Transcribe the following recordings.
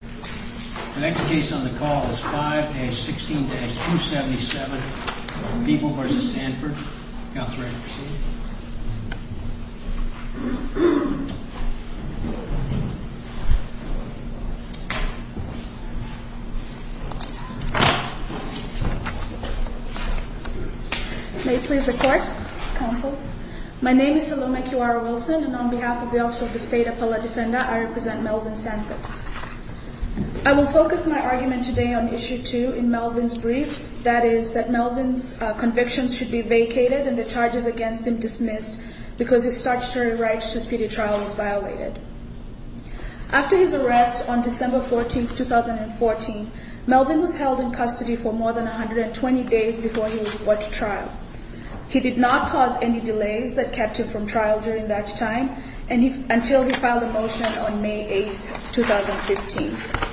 The next case on the call is 5-16-277, People v. Sanford. Counselor, you may proceed. May it please the Court, Counsel. My name is Saloma Q.R. Wilson, and on behalf of the Office of the State Appellate Defender, I represent Melvin Sanford. I will focus my argument today on Issue 2 in Melvin's briefs, that is, that Melvin's convictions should be vacated and the charges against him dismissed because his statutory right to speedy trial is violated. After his arrest on December 14, 2014, Melvin was held in custody for more than 120 days before he was brought to trial. He did not cause any delays that kept him from trial during that time until he filed a motion on May 8, 2015.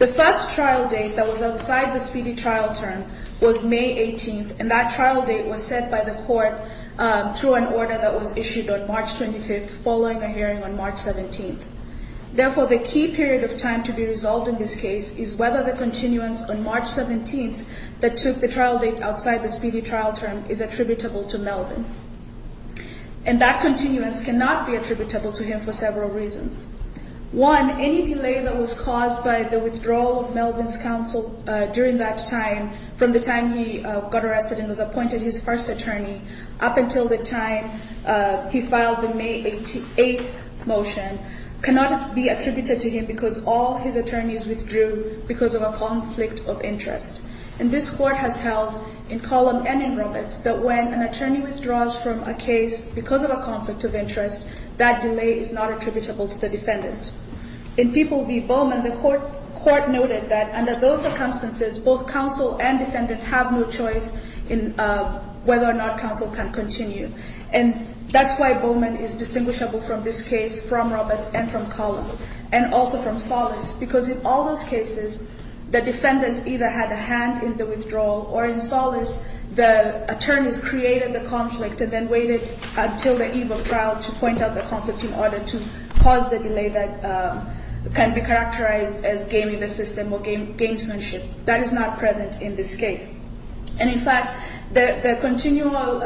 The first trial date that was outside the speedy trial term was May 18, and that trial date was set by the Court through an order that was issued on March 25, following a hearing on March 17. Therefore, the key period of time to be resolved in this case is whether the continuance on March 17 that took the trial date outside the speedy trial term is attributable to Melvin. And that continuance cannot be attributable to him for several reasons. One, any delay that was caused by the withdrawal of Melvin's counsel during that time, from the time he got arrested and was appointed his first attorney up until the time he filed the May 8 motion, cannot be attributed to him because all his attorneys withdrew because of a conflict of interest. And this Court has held in Column and in Roberts that when an attorney withdraws from a case because of a conflict of interest, that delay is not attributable to the defendant. In People v. Bowman, the Court noted that under those circumstances, both counsel and defendant have no choice in whether or not counsel can continue. And that's why Bowman is distinguishable from this case from Roberts and from Column and also from Solis because in all those cases, the defendant either had a hand in the withdrawal or in Solis, the attorneys created the conflict and then waited until the eve of trial to point out the conflict in order to cause the delay that can be characterized as gaming the system or gamesmanship. That is not present in this case. And in fact, the continual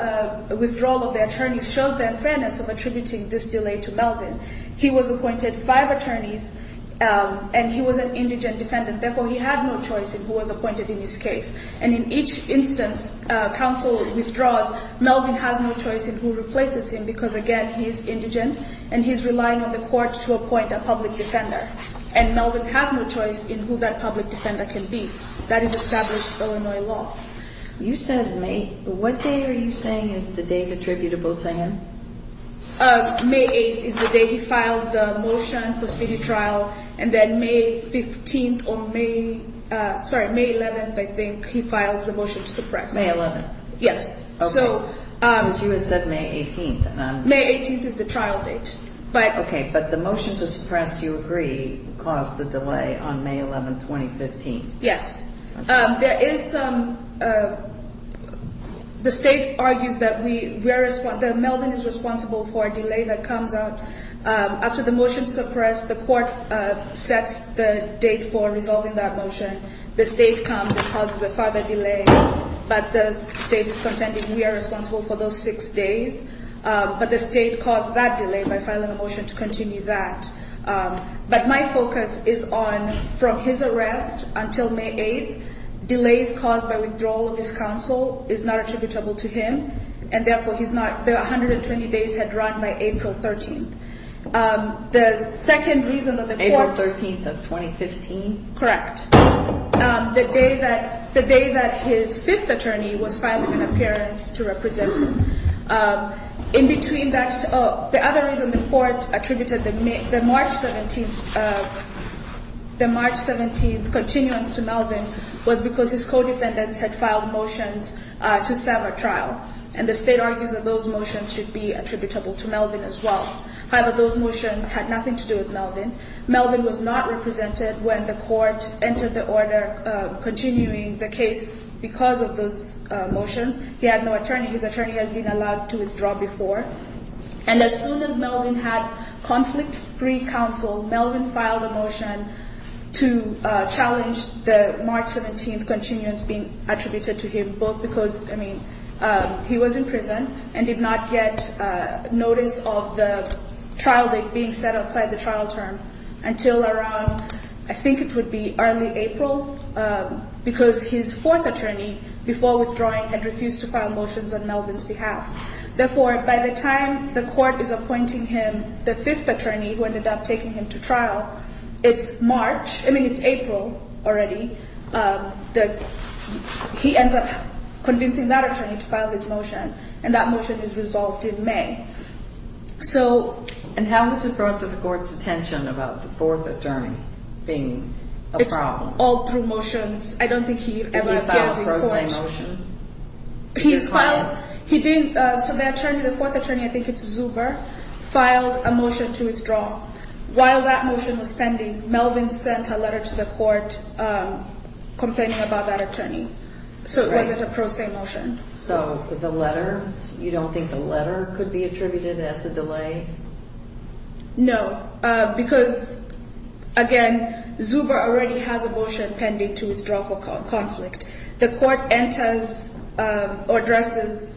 withdrawal of the attorneys shows the unfairness of attributing this delay to Melvin. He was appointed five attorneys and he was an indigent defendant. Therefore, he had no choice in who was appointed in this case. And in each instance, counsel withdraws. Melvin has no choice in who replaces him because, again, he is indigent and he is relying on the Court to appoint a public defender. And Melvin has no choice in who that public defender can be. That is established Illinois law. You said May – what day are you saying is the date attributable to him? May 8th is the day he filed the motion for speedy trial. And then May 15th or May – sorry, May 11th, I think, he files the motion to suppress. May 11th. Yes. Okay. Because you had said May 18th. May 18th is the trial date. Okay. But the motion to suppress, do you agree, caused the delay on May 11, 2015? Yes. There is some – the State argues that we – that Melvin is responsible for a delay that comes up. After the motion to suppress, the Court sets the date for resolving that motion. The State comes and causes a further delay. But the State is contending we are responsible for those six days. But the State caused that delay by filing a motion to continue that. But my focus is on from his arrest until May 8th, delays caused by withdrawal of his counsel is not attributable to him. And therefore, he's not – the 120 days had run by April 13th. The second reason that the Court – April 13th of 2015? Correct. The day that his fifth attorney was filing an appearance to represent him. In between that – the other reason the Court attributed the March 17th – the March 17th continuance to Melvin was because his co-defendants had filed motions to sever trial. And the State argues that those motions should be attributable to Melvin as well. However, those motions had nothing to do with Melvin. Melvin was not represented when the Court entered the order continuing the case because of those motions. He had no attorney. His attorney had been allowed to withdraw before. And as soon as Melvin had conflict-free counsel, Melvin filed a motion to challenge the March 17th continuance being attributed to him, both because, I mean, he was in prison and did not get notice of the trial date being set outside the trial term I think it would be early April because his fourth attorney, before withdrawing, had refused to file motions on Melvin's behalf. Therefore, by the time the Court is appointing him the fifth attorney, who ended up taking him to trial, it's March – I mean, it's April already. He ends up convincing that attorney to file his motion. And that motion is resolved in May. And how was it brought to the Court's attention about the fourth attorney being a problem? It's all through motions. I don't think he ever appears in court. Did he file a pro se motion? He didn't. So the fourth attorney, I think it's Zuber, filed a motion to withdraw. While that motion was pending, Melvin sent a letter to the Court complaining about that attorney. So it wasn't a pro se motion. So the letter – you don't think the letter could be attributed as a delay? No, because, again, Zuber already has a motion pending to withdraw for conflict. The Court enters or addresses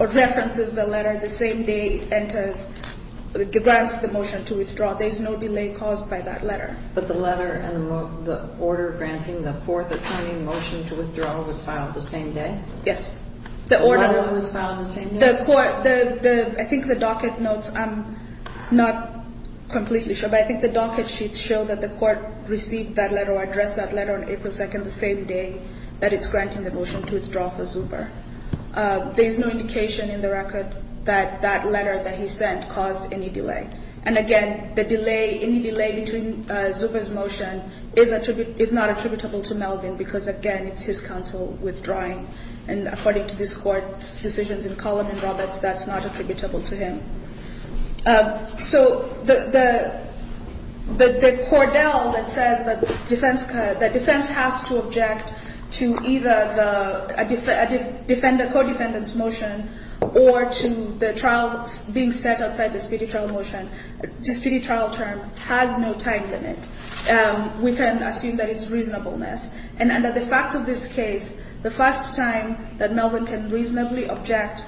or references the letter the same day it enters – grants the motion to withdraw. There's no delay caused by that letter. But the letter and the order granting the fourth attorney motion to withdraw was filed the same day? Yes. The order was filed the same day. I think the docket notes – I'm not completely sure, but I think the docket sheets show that the Court received that letter or addressed that letter on April 2nd, the same day that it's granting the motion to withdraw for Zuber. There is no indication in the record that that letter that he sent caused any delay. And, again, the delay – any delay between Zuber's motion is not attributable to Melvin because, again, it's his counsel withdrawing. And according to this Court's decisions in Cullin and Roberts, that's not attributable to him. So the – the cordel that says that defense – that defense has to object to either the defender – codependent's motion or to the trial being set outside the speedy trial motion, the speedy trial term has no time limit. We can assume that it's reasonableness. And under the facts of this case, the first time that Melvin can reasonably object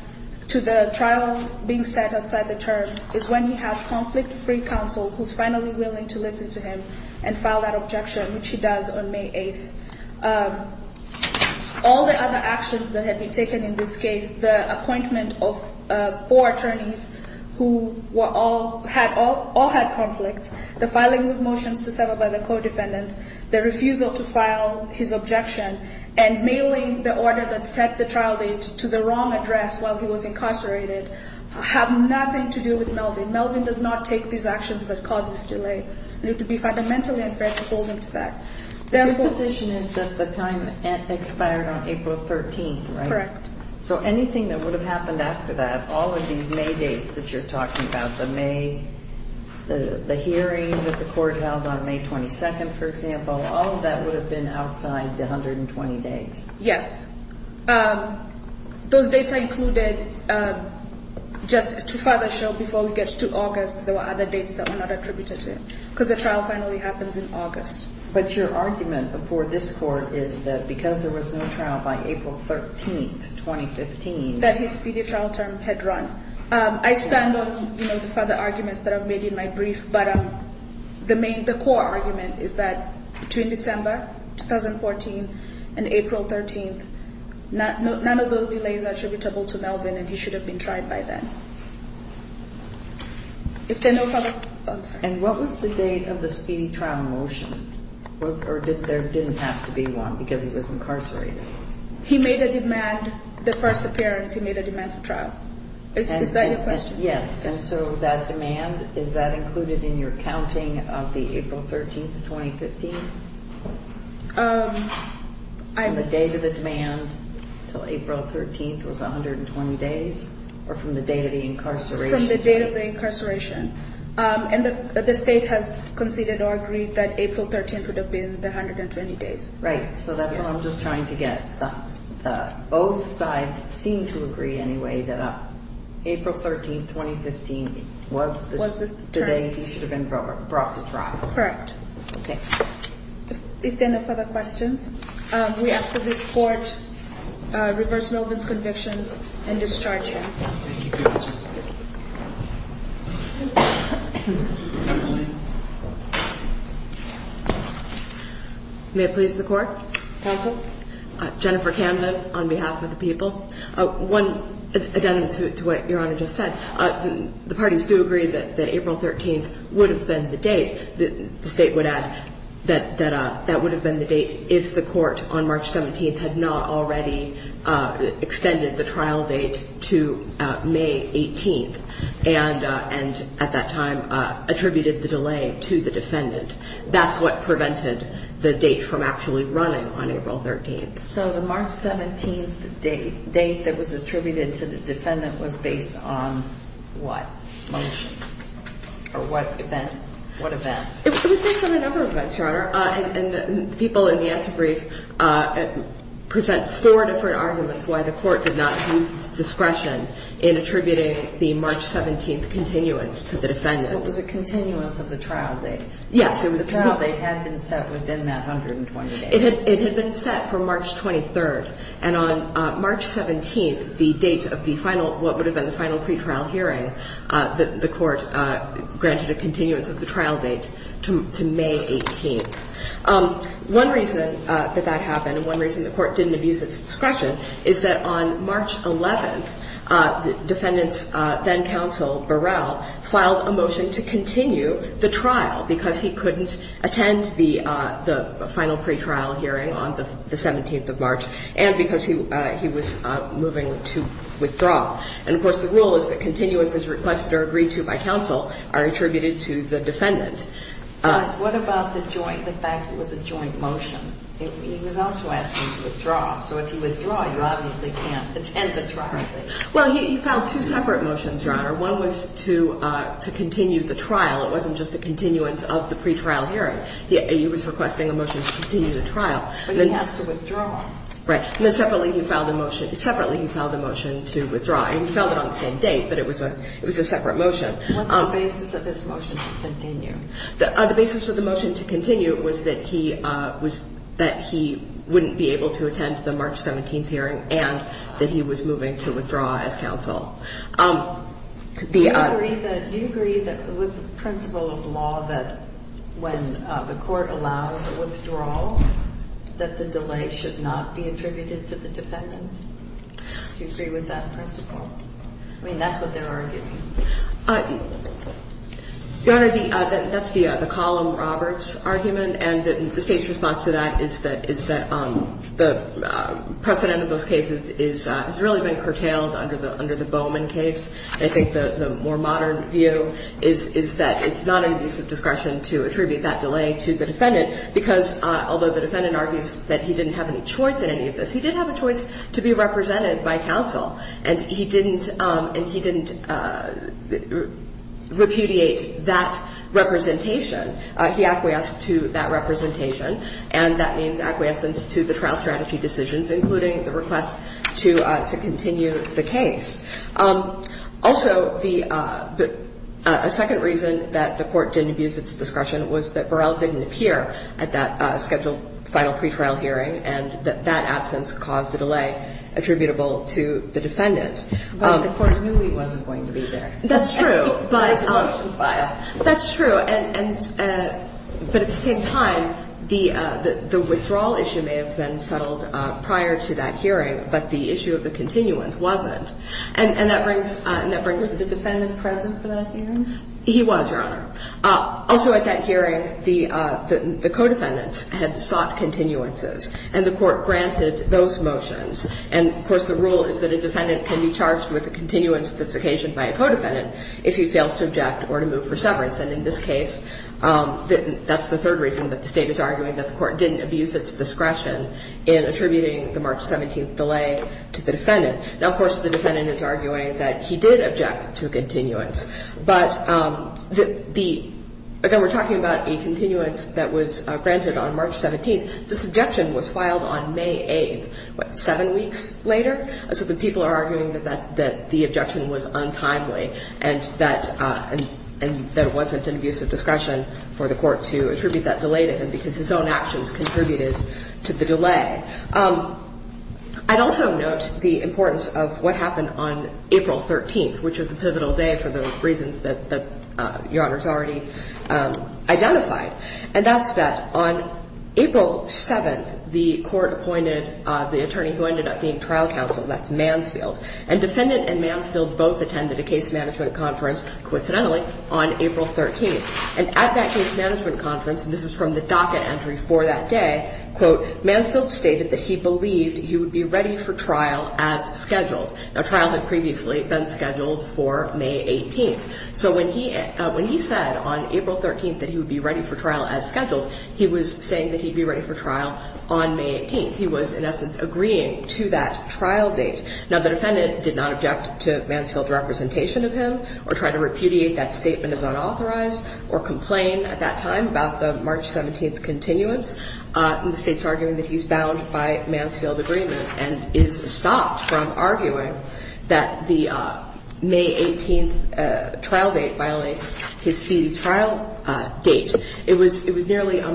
to the trial being set outside the term is when he has conflict-free counsel who's finally willing to listen to him and file that objection, which he does on May 8th. All the other actions that have been taken in this case – the appointment of four attorneys who were all – all had conflicts, the filings of motions to sever by the codependents, the refusal to file his objection, and mailing the order that set the trial date to the wrong address while he was incarcerated have nothing to do with Melvin. Melvin does not take these actions that cause this delay. And it would be fundamentally unfair to hold him to that. Their position is that the time expired on April 13th, right? Correct. So anything that would have happened after that, all of these May dates that you're talking about, the May – the hearing that the court held on May 22nd, for example, all of that would have been outside the 120 days. Yes. Those dates are included just to further show before we get to August there were other dates that were not attributed to him because the trial finally happens in August. But your argument for this court is that because there was no trial by April 13th, 2015 – That his speedy trial term had run. I stand on the further arguments that I've made in my brief, but the core argument is that between December 2014 and April 13th, none of those delays are attributable to Melvin, and he should have been tried by then. And what was the date of the speedy trial motion? Or there didn't have to be one because he was incarcerated? He made a demand – the first appearance, he made a demand for trial. Is that your question? Yes. And so that demand, is that included in your counting of the April 13th, 2015? On the date of the demand until April 13th was 120 days? Or from the date of the incarceration? From the date of the incarceration. And the state has conceded or agreed that April 13th would have been the 120 days. Right. So that's what I'm just trying to get. Both sides seem to agree anyway that April 13th, 2015 was the date he should have been brought to trial. Correct. Okay. If there are no further questions, we ask that this Court reverse Melvin's convictions and discharge him. May it please the Court. Counsel. Jennifer Camden on behalf of the people. One, again, to what Your Honor just said. The parties do agree that April 13th would have been the date. The state would add that that would have been the date if the Court on March 17th had not already extended the trial date to May 18th and at that time attributed the delay to the defendant. That's what prevented the date from actually running on April 13th. So the March 17th date that was attributed to the defendant was based on what? Motion? Or what event? What event? It was based on a number of events, Your Honor. And the people in the answer brief present four different arguments why the Court did not use discretion in attributing the March 17th continuance to the defendant. So it was a continuance of the trial date? Yes. The trial date had been set within that 120 days. It had been set for March 23rd. And on March 17th, the date of the final, what would have been the final pretrial hearing, the Court granted a continuance of the trial date to May 18th. One reason that that happened and one reason the Court didn't abuse its discretion is that on March 11th, the defendant's then counsel, Burrell, filed a motion to continue the trial because he couldn't attend the final pretrial hearing on the 17th of March and because he was moving to withdraw. And, of course, the rule is that continuances requested or agreed to by counsel are attributed to the defendant. But what about the joint, the fact it was a joint motion? He was also asking to withdraw. So if you withdraw, you obviously can't attend the trial. Well, he filed two separate motions, Your Honor. One was to continue the trial. It wasn't just a continuance of the pretrial hearing. He was requesting a motion to continue the trial. But he has to withdraw. Right. And then separately he filed a motion to withdraw. And he filed it on the same date, but it was a separate motion. What's the basis of his motion to continue? The basis of the motion to continue was that he wouldn't be able to attend the March 17th hearing and that he was moving to withdraw as counsel. Do you agree with the principle of law that when the court allows a withdrawal that the delay should not be attributed to the defendant? Do you agree with that principle? I mean, that's what they're arguing. Your Honor, that's the Column Roberts argument. And the State's response to that is that the precedent of those cases has really been curtailed under the Bowman case. I think the more modern view is that it's not an abuse of discretion to attribute that delay to the defendant because although the defendant argues that he didn't have any choice in any of this, he did have a choice to be represented by counsel. And he didn't repudiate that representation. He acquiesced to that representation. And that means acquiescence to the trial strategy decisions, including the request to continue the case. Also, the second reason that the Court didn't abuse its discretion was that Burrell didn't appear at that scheduled final pretrial hearing and that that absence caused a delay attributable to the defendant. But the Court knew he wasn't going to be there. That's true. But it's a motion file. That's true. But at the same time, the withdrawal issue may have been settled prior to that hearing, but the issue of the continuance wasn't. And that brings us to the defendant present for that hearing? He was, Your Honor. Also at that hearing, the co-defendants had sought continuances, and the Court granted those motions. And, of course, the rule is that a defendant can be charged with a continuance that's occasioned by a co-defendant if he fails to object or to move for severance. And in this case, that's the third reason that the State is arguing that the Court didn't abuse its discretion in attributing the March 17th delay to the defendant. Now, of course, the defendant is arguing that he did object to a continuance. But the – again, we're talking about a continuance that was granted on March 17th. This objection was filed on May 8th, what, seven weeks later? So the people are arguing that the objection was untimely and that it wasn't an abuse of discretion for the Court to attribute that delay to him because his own actions contributed to the delay. I'd also note the importance of what happened on April 13th, which was a pivotal day for the reasons that Your Honor's already identified, and that's that on April 7th, the Court appointed the attorney who ended up being trial counsel. That's Mansfield. And defendant and Mansfield both attended a case management conference, coincidentally, on April 13th. And at that case management conference, and this is from the docket entry for that day, quote, Mansfield stated that he believed he would be ready for trial as scheduled. Now, trial had previously been scheduled for May 18th. So when he said on April 13th that he would be ready for trial as scheduled, he was saying that he'd be ready for trial on May 18th. He was, in essence, agreeing to that trial date. Now, the defendant did not object to Mansfield's representation of him or tried to repudiate that statement as unauthorized or complain at that time about the March 17th continuance. And the State's arguing that he's bound by Mansfield agreement and is stopped from arguing that the May 18th trial date violates his speedy trial date. It was nearly a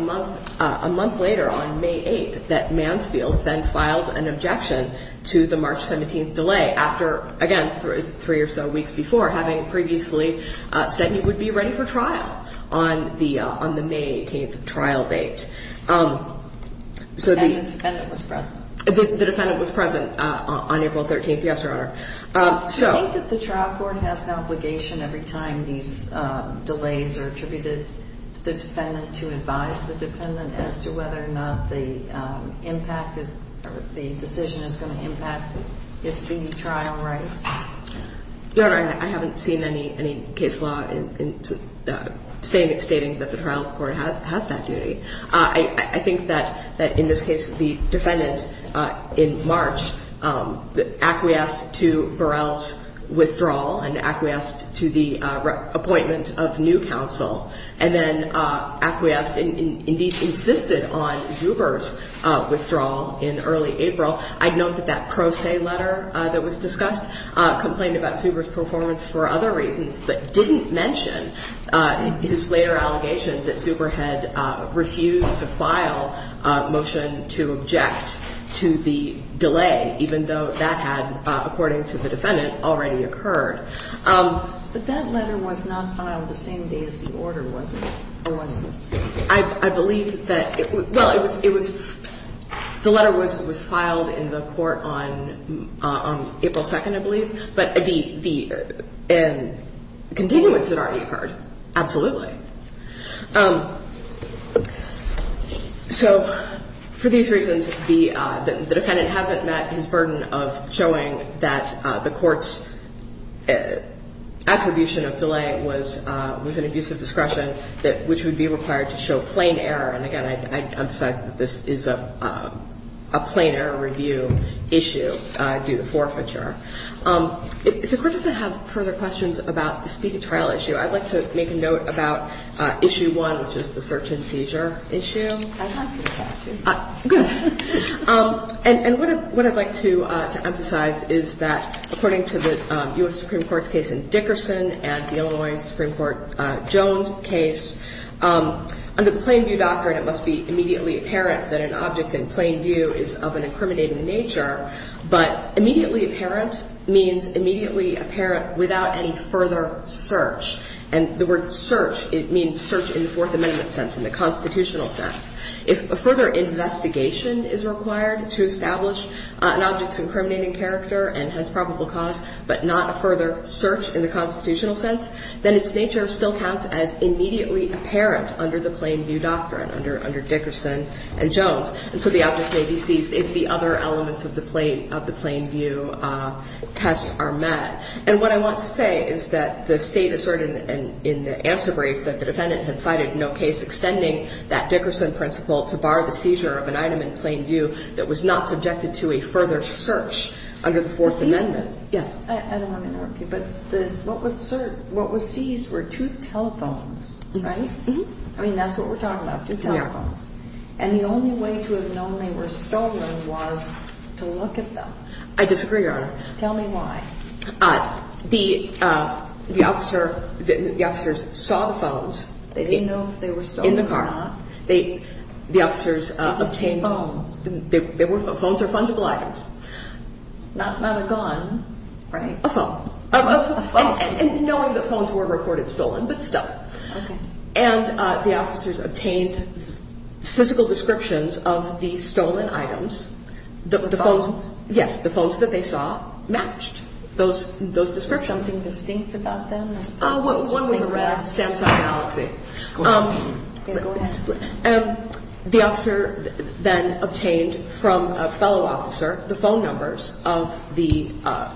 month later, on May 8th, that Mansfield then filed an objection to the March 17th delay after, again, three or so weeks before, having previously said he would be ready for trial on the May 18th trial date. And the defendant was present. The defendant was present on April 13th, yes, Your Honor. Do you think that the trial court has an obligation every time these delays are attributed to the defendant to advise the defendant as to whether or not the decision is going to impact his speedy trial rate? Your Honor, I haven't seen any case law stating that the trial court has that duty. I think that, in this case, the defendant, in March, acquiesced to Burrell's withdrawal and acquiesced to the appointment of new counsel, and then acquiesced and, indeed, insisted on Zuber's withdrawal in early April. I'd note that that pro se letter that was discussed complained about Zuber's performance for other reasons but didn't mention his later allegation that Zuber had refused to file a motion to object to the delay, even though that had, according to the defendant, already occurred. But that letter was not filed the same day as the order was, or was it? I believe that it was – well, it was – the letter was filed in the court on April 2nd, I believe. But the continuance had already occurred. Absolutely. So for these reasons, the defendant hasn't met his burden of showing that the court's attribution of delay was an abuse of discretion that – which would be required to show plain error. And, again, I'd emphasize that this is a plain error review issue due to forfeiture. If the Court doesn't have further questions about the speedy trial issue, I'd like to make a note about Issue 1, which is the search and seizure issue. I'd like to talk to you. Good. And what I'd like to emphasize is that, according to the U.S. Supreme Court's case in Dickerson and the Illinois Supreme Court Jones case, under the plain view doctrine it must be immediately apparent that an object in plain view is of an incriminating nature, but immediately apparent means immediately apparent without any further search. And the word search, it means search in the Fourth Amendment sense, in the constitutional sense. If a further investigation is required to establish an object's incriminating character and hence probable cause, but not a further search in the constitutional sense, then its nature still counts as immediately apparent under the plain view doctrine, under Dickerson and Jones. And so the object may be seized if the other elements of the plain view test are met. And what I want to say is that the State asserted in the answer brief that the defendant had cited no case extending that Dickerson principle to bar the seizure of an item in plain view that was not subjected to a further search under the Fourth Amendment. I don't want to interrupt you, but what was seized were two telephones, right? I mean, that's what we're talking about, two telephones. And the only way to have known they were stolen was to look at them. I disagree, Your Honor. Tell me why. The officers saw the phones. They didn't know if they were stolen or not. In the car. They just see phones. Phones are fungible items. Not a gun, right? A phone. A phone. And knowing that phones were reported stolen, but still. Okay. And the officers obtained physical descriptions of the stolen items. Phones? Yes, the phones that they saw matched those descriptions. Was something distinct about them? One was a red Samsung Galaxy. Okay, go ahead. The officer then obtained from a fellow officer the phone numbers of the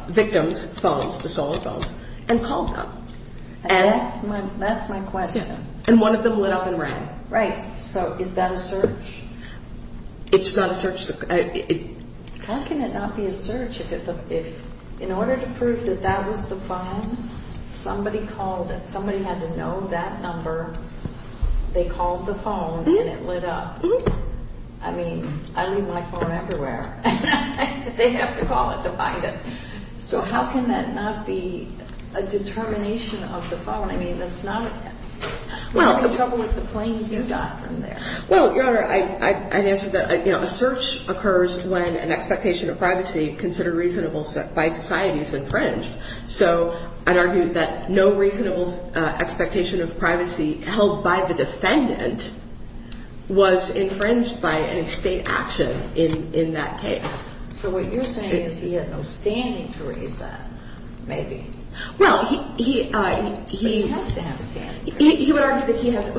victims' phones, the stolen phones, and called them. That's my question. And one of them lit up and ran. Right. So is that a search? It's not a search. How can it not be a search if, in order to prove that that was the phone, somebody had to know that number, they called the phone, and it lit up? I mean, I leave my phone everywhere. They have to call it to find it. So how can that not be a determination of the phone? I mean, that's not. We're having trouble with the plane you got from there. Well, Your Honor, I answered that. A search occurs when an expectation of privacy considered reasonable by society is infringed. So I'd argue that no reasonable expectation of privacy held by the defendant was infringed by any state action in that case. So what you're saying is he had no standing to raise that, maybe. Well, he would argue that he has.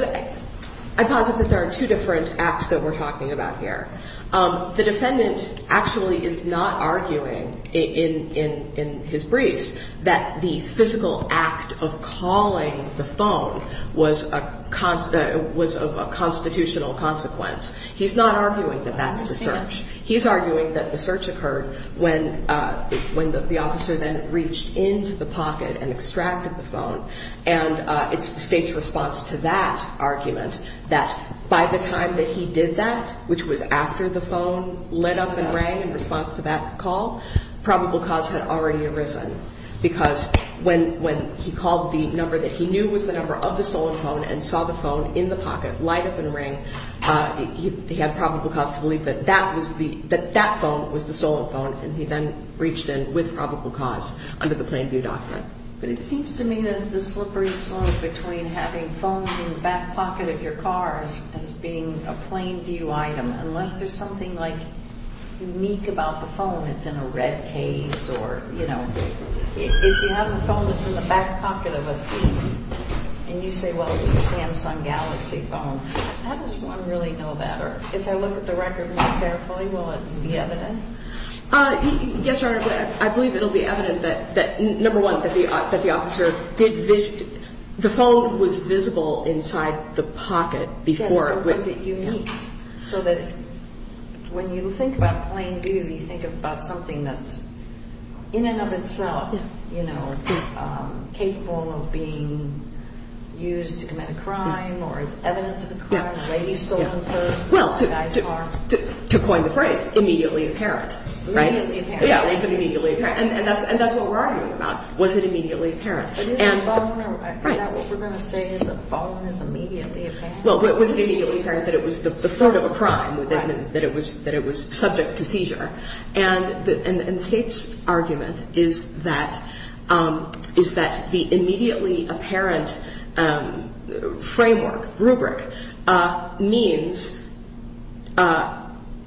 I posit that there are two different acts that we're talking about here. The defendant actually is not arguing in his briefs that the physical act of calling the phone was of a constitutional consequence. He's not arguing that that's the search. He's arguing that the search occurred when the officer then reached into the pocket and extracted the phone. And it's the state's response to that argument that by the time that he did that, which was after the phone lit up and rang in response to that call, probable cause had already arisen. Because when he called the number that he knew was the number of the stolen phone and saw the phone in the pocket light up and ring, he had probable cause to believe that that phone was the stolen phone, and he then reached in with probable cause under the Plain View Doctrine. But it seems to me that it's a slippery slope between having phones in the back pocket of your car as being a Plain View item. Unless there's something, like, unique about the phone, it's in a red case or, you know, if you have a phone that's in the back pocket of a seat and you say, well, it's a Samsung Galaxy phone, how does one really know that? Or if I look at the record more carefully, will it be evident? Yes, Your Honor, I believe it will be evident that, number one, that the officer did vision – the phone was visible inside the pocket before. Yes, so was it unique so that when you think about Plain View, you think about something that's in and of itself, you know, capable of being used to commit a crime or is evidence of a crime, a lady stolen a purse, a guy's car. Well, to coin the phrase, immediately apparent, right? Immediately apparent. Yes, it was immediately apparent. And that's what we're arguing about. Was it immediately apparent? Is that what we're going to say is that following is immediately apparent? Well, was it immediately apparent that it was the threat of a crime, that it was subject to seizure? And the State's argument is that the immediately apparent framework, rubric, means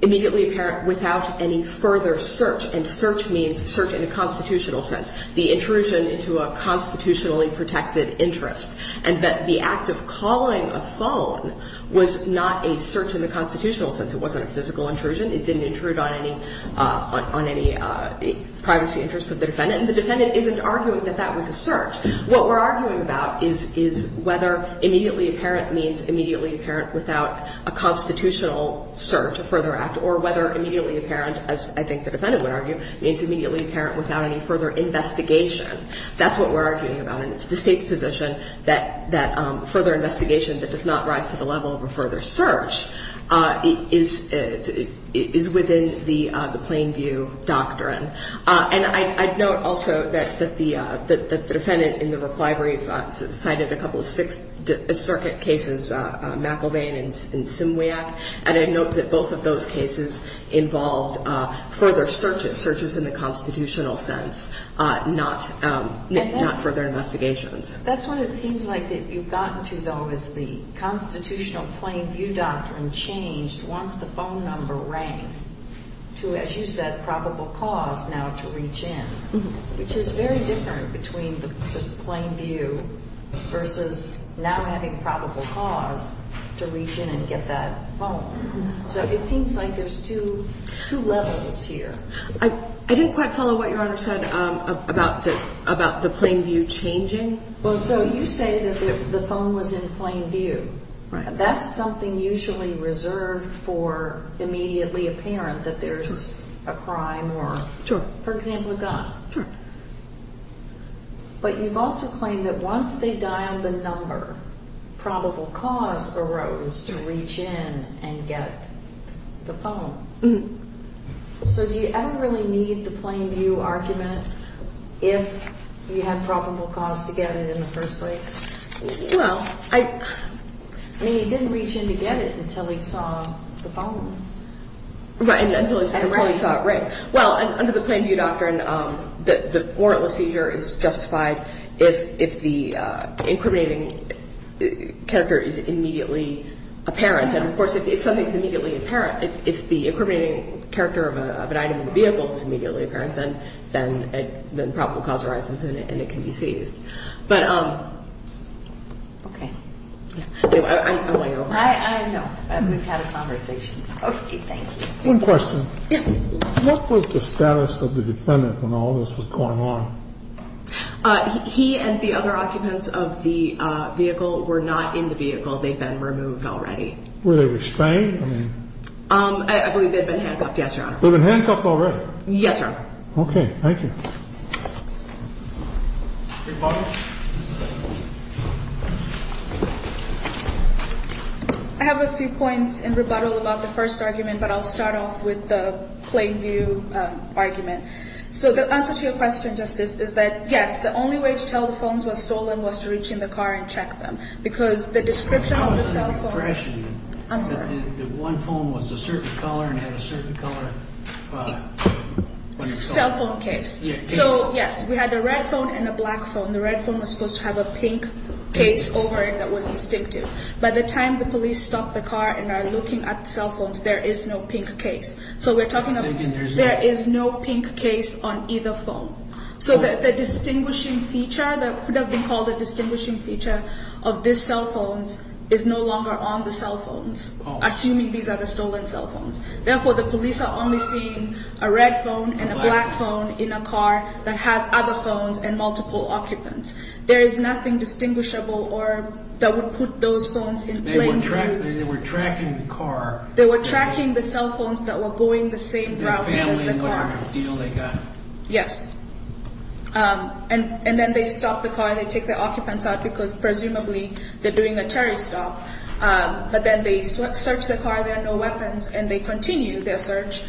immediately apparent without any further search, and search means search in a constitutional sense, the intrusion into a constitutionally protected interest, and that the act of calling a phone was not a search in the constitutional sense. It wasn't a physical intrusion. It didn't intrude on any – on any privacy interests of the defendant. And the defendant isn't arguing that that was a search. What we're arguing about is whether immediately apparent means immediately apparent without a constitutional search, a further act, or whether immediately apparent, as I think the defendant would argue, means immediately apparent without any further investigation. That's what we're arguing about. And it's the State's position that further investigation that does not rise to the level of a further search is within the plain view doctrine. And I'd note also that the defendant in the reclivery cited a couple of Sixth Circuit cases, McIlvain and Simwiak, and I'd note that both of those cases involved further searches, searches in the constitutional sense, not further investigations. That's what it seems like that you've gotten to, though, is the constitutional plain view doctrine changed once the phone number rang to, as you said, probable cause now to reach in, which is very different between the just plain view versus now having probable cause to reach in and get that phone. So it seems like there's two levels here. I didn't quite follow what Your Honor said about the plain view changing. Well, so you say that the phone was in plain view. Right. That's something usually reserved for immediately apparent that there's a crime or, for example, a gun. Sure. But you've also claimed that once they dialed the number, probable cause arose to reach in and get the phone. So do you ever really need the plain view argument if you had probable cause to get it in the first place? Well, I – I mean, he didn't reach in to get it until he saw the phone. Right, until he saw it. Right. Well, under the plain view doctrine, the warrantless seizure is justified if the incriminating character is immediately apparent. And, of course, if something's immediately apparent, if the incriminating character of an item in the vehicle is immediately apparent, then probable cause arises and it can be seized. But I'm way over. I know. We've had a conversation. Okay, thank you. One question. Yes. What was the status of the defendant when all this was going on? He and the other occupants of the vehicle were not in the vehicle. They'd been removed already. Were they restrained? I believe they'd been handcuffed, yes, Your Honor. They'd been handcuffed already? Yes, Your Honor. Okay, thank you. I have a few points in rebuttal about the first argument, but I'll start off with the plain view argument. So the answer to your question, Justice, is that, yes, the only way to tell the phones were stolen was to reach in the car and check them because the description of the cell phones. I'm sorry. The one phone was a certain color and had a certain color. Cell phone case. So, yes, we had a red phone and a black phone. The red phone was supposed to have a pink case over it that was distinctive. By the time the police stopped the car and are looking at the cell phones, there is no pink case. So we're talking about there is no pink case on either phone. So the distinguishing feature that could have been called a distinguishing feature of these cell phones is no longer on the cell phones, assuming these are the stolen cell phones. Therefore, the police are only seeing a red phone and a black phone in a car that has other phones and multiple occupants. There is nothing distinguishable that would put those phones in plain view. They were tracking the car. They were tracking the cell phones that were going the same route as the car. Their family and whatever deal they got. Yes. And then they stopped the car and they took the occupants out because, presumably, they're doing a tarry stop. But then they searched the car. There are no weapons. And they continued their search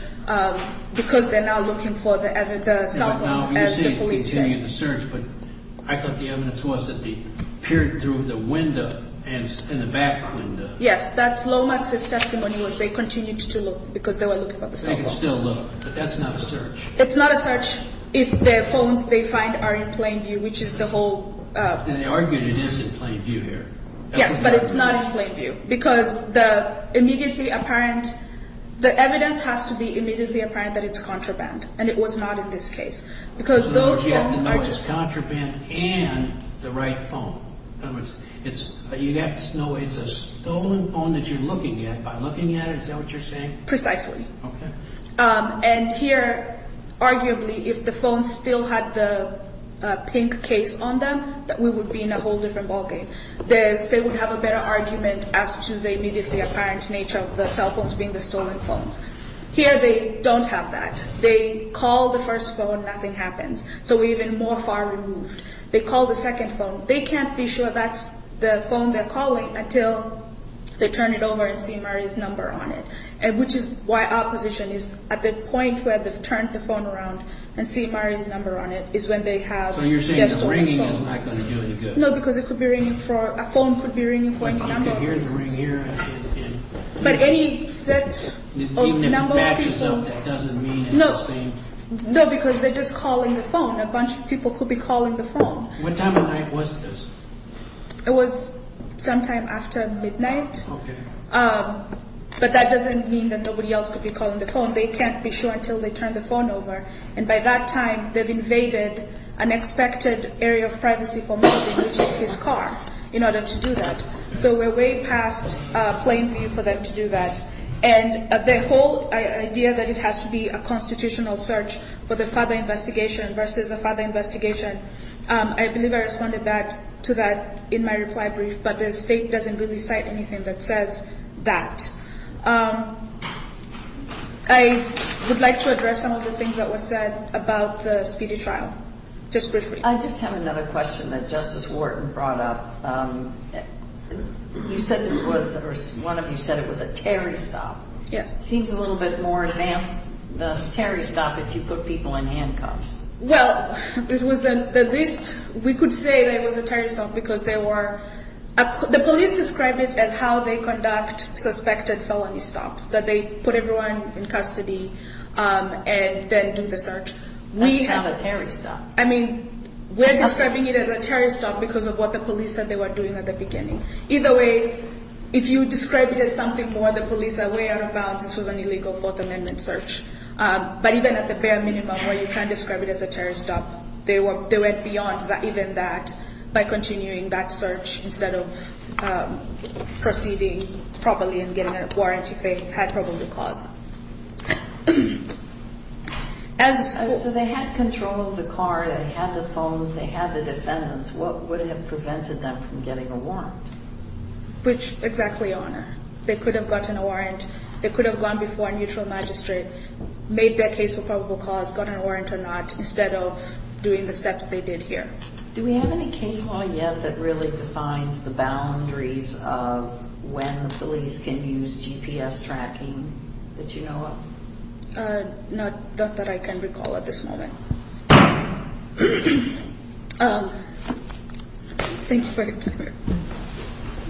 because they're now looking for the cell phones as the police said. But I thought the evidence was that they peered through the window and in the back window. Yes. That's Lomax's testimony was they continued to look because they were looking for the cell phones. They can still look. But that's not a search. It's not a search if the phones they find are in plain view, which is the whole And they argued it is in plain view here. Yes. But it's not in plain view because the immediately apparent the evidence has to be immediately apparent that it's contraband. And it was not in this case. Because those phones are just It's contraband and the right phone. It's a stolen phone that you're looking at. By looking at it, is that what you're saying? Precisely. Okay. And here, arguably, if the phones still had the pink case on them, we would be in a whole different ballgame. They would have a better argument as to the immediately apparent nature of the cell phones being the stolen phones. Here they don't have that. They call the first phone, nothing happens. So we're even more far removed. They call the second phone. They can't be sure that's the phone they're calling until they turn it over and see Murray's number on it, which is why our position is at the point where they've turned the phone around and seen Murray's number on it is when they have the stolen phones. So you're saying the ringing is not going to do any good. No, because it could be ringing for a phone could be ringing for a number of reasons. You could hear the ring here. But any set of number of people Even if it matches up, that doesn't mean it's the same. No, because they're just calling the phone. A bunch of people could be calling the phone. What time of night was this? It was sometime after midnight. Okay. But that doesn't mean that nobody else could be calling the phone. They can't be sure until they turn the phone over. And by that time, they've invaded an expected area of privacy for Murray, which is his car, in order to do that. So we're way past playing for you for them to do that. And the whole idea that it has to be a constitutional search for the further investigation versus the further investigation I believe I responded to that in my reply brief. But the state doesn't really cite anything that says that. I would like to address some of the things that were said about the speedy trial. Just briefly. I just have another question that Justice Wharton brought up. One of you said it was a Terry stop. Yes. It seems a little bit more advanced than a Terry stop if you put people in handcuffs. Well, it was the least we could say that it was a Terry stop because there were – the police describe it as how they conduct suspected felony stops, that they put everyone in custody and then do the search. That's not a Terry stop. I mean, we're describing it as a Terry stop because of what the police said they were doing at the beginning. Either way, if you describe it as something more, the police are way out of bounds. This was an illegal Fourth Amendment search. But even at the bare minimum where you can't describe it as a Terry stop, they went beyond even that by continuing that search instead of proceeding properly and getting a warrant if they had probable cause. So they had control of the car. They had the phones. They had the defendants. What would have prevented them from getting a warrant? Which, exactly, Your Honor. They could have gotten a warrant. They could have gone before a neutral magistrate, made their case for probable cause, got a warrant or not instead of doing the steps they did here. Do we have any case law yet that really defines the boundaries of when the police can use GPS tracking that you know of? Not that I can recall at this moment. Thank you for your time,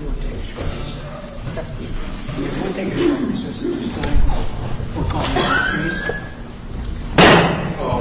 Your Honor. You won't take a shot at me, sir. You won't take a shot at me, sir, since you're just dying. For God's sake, please.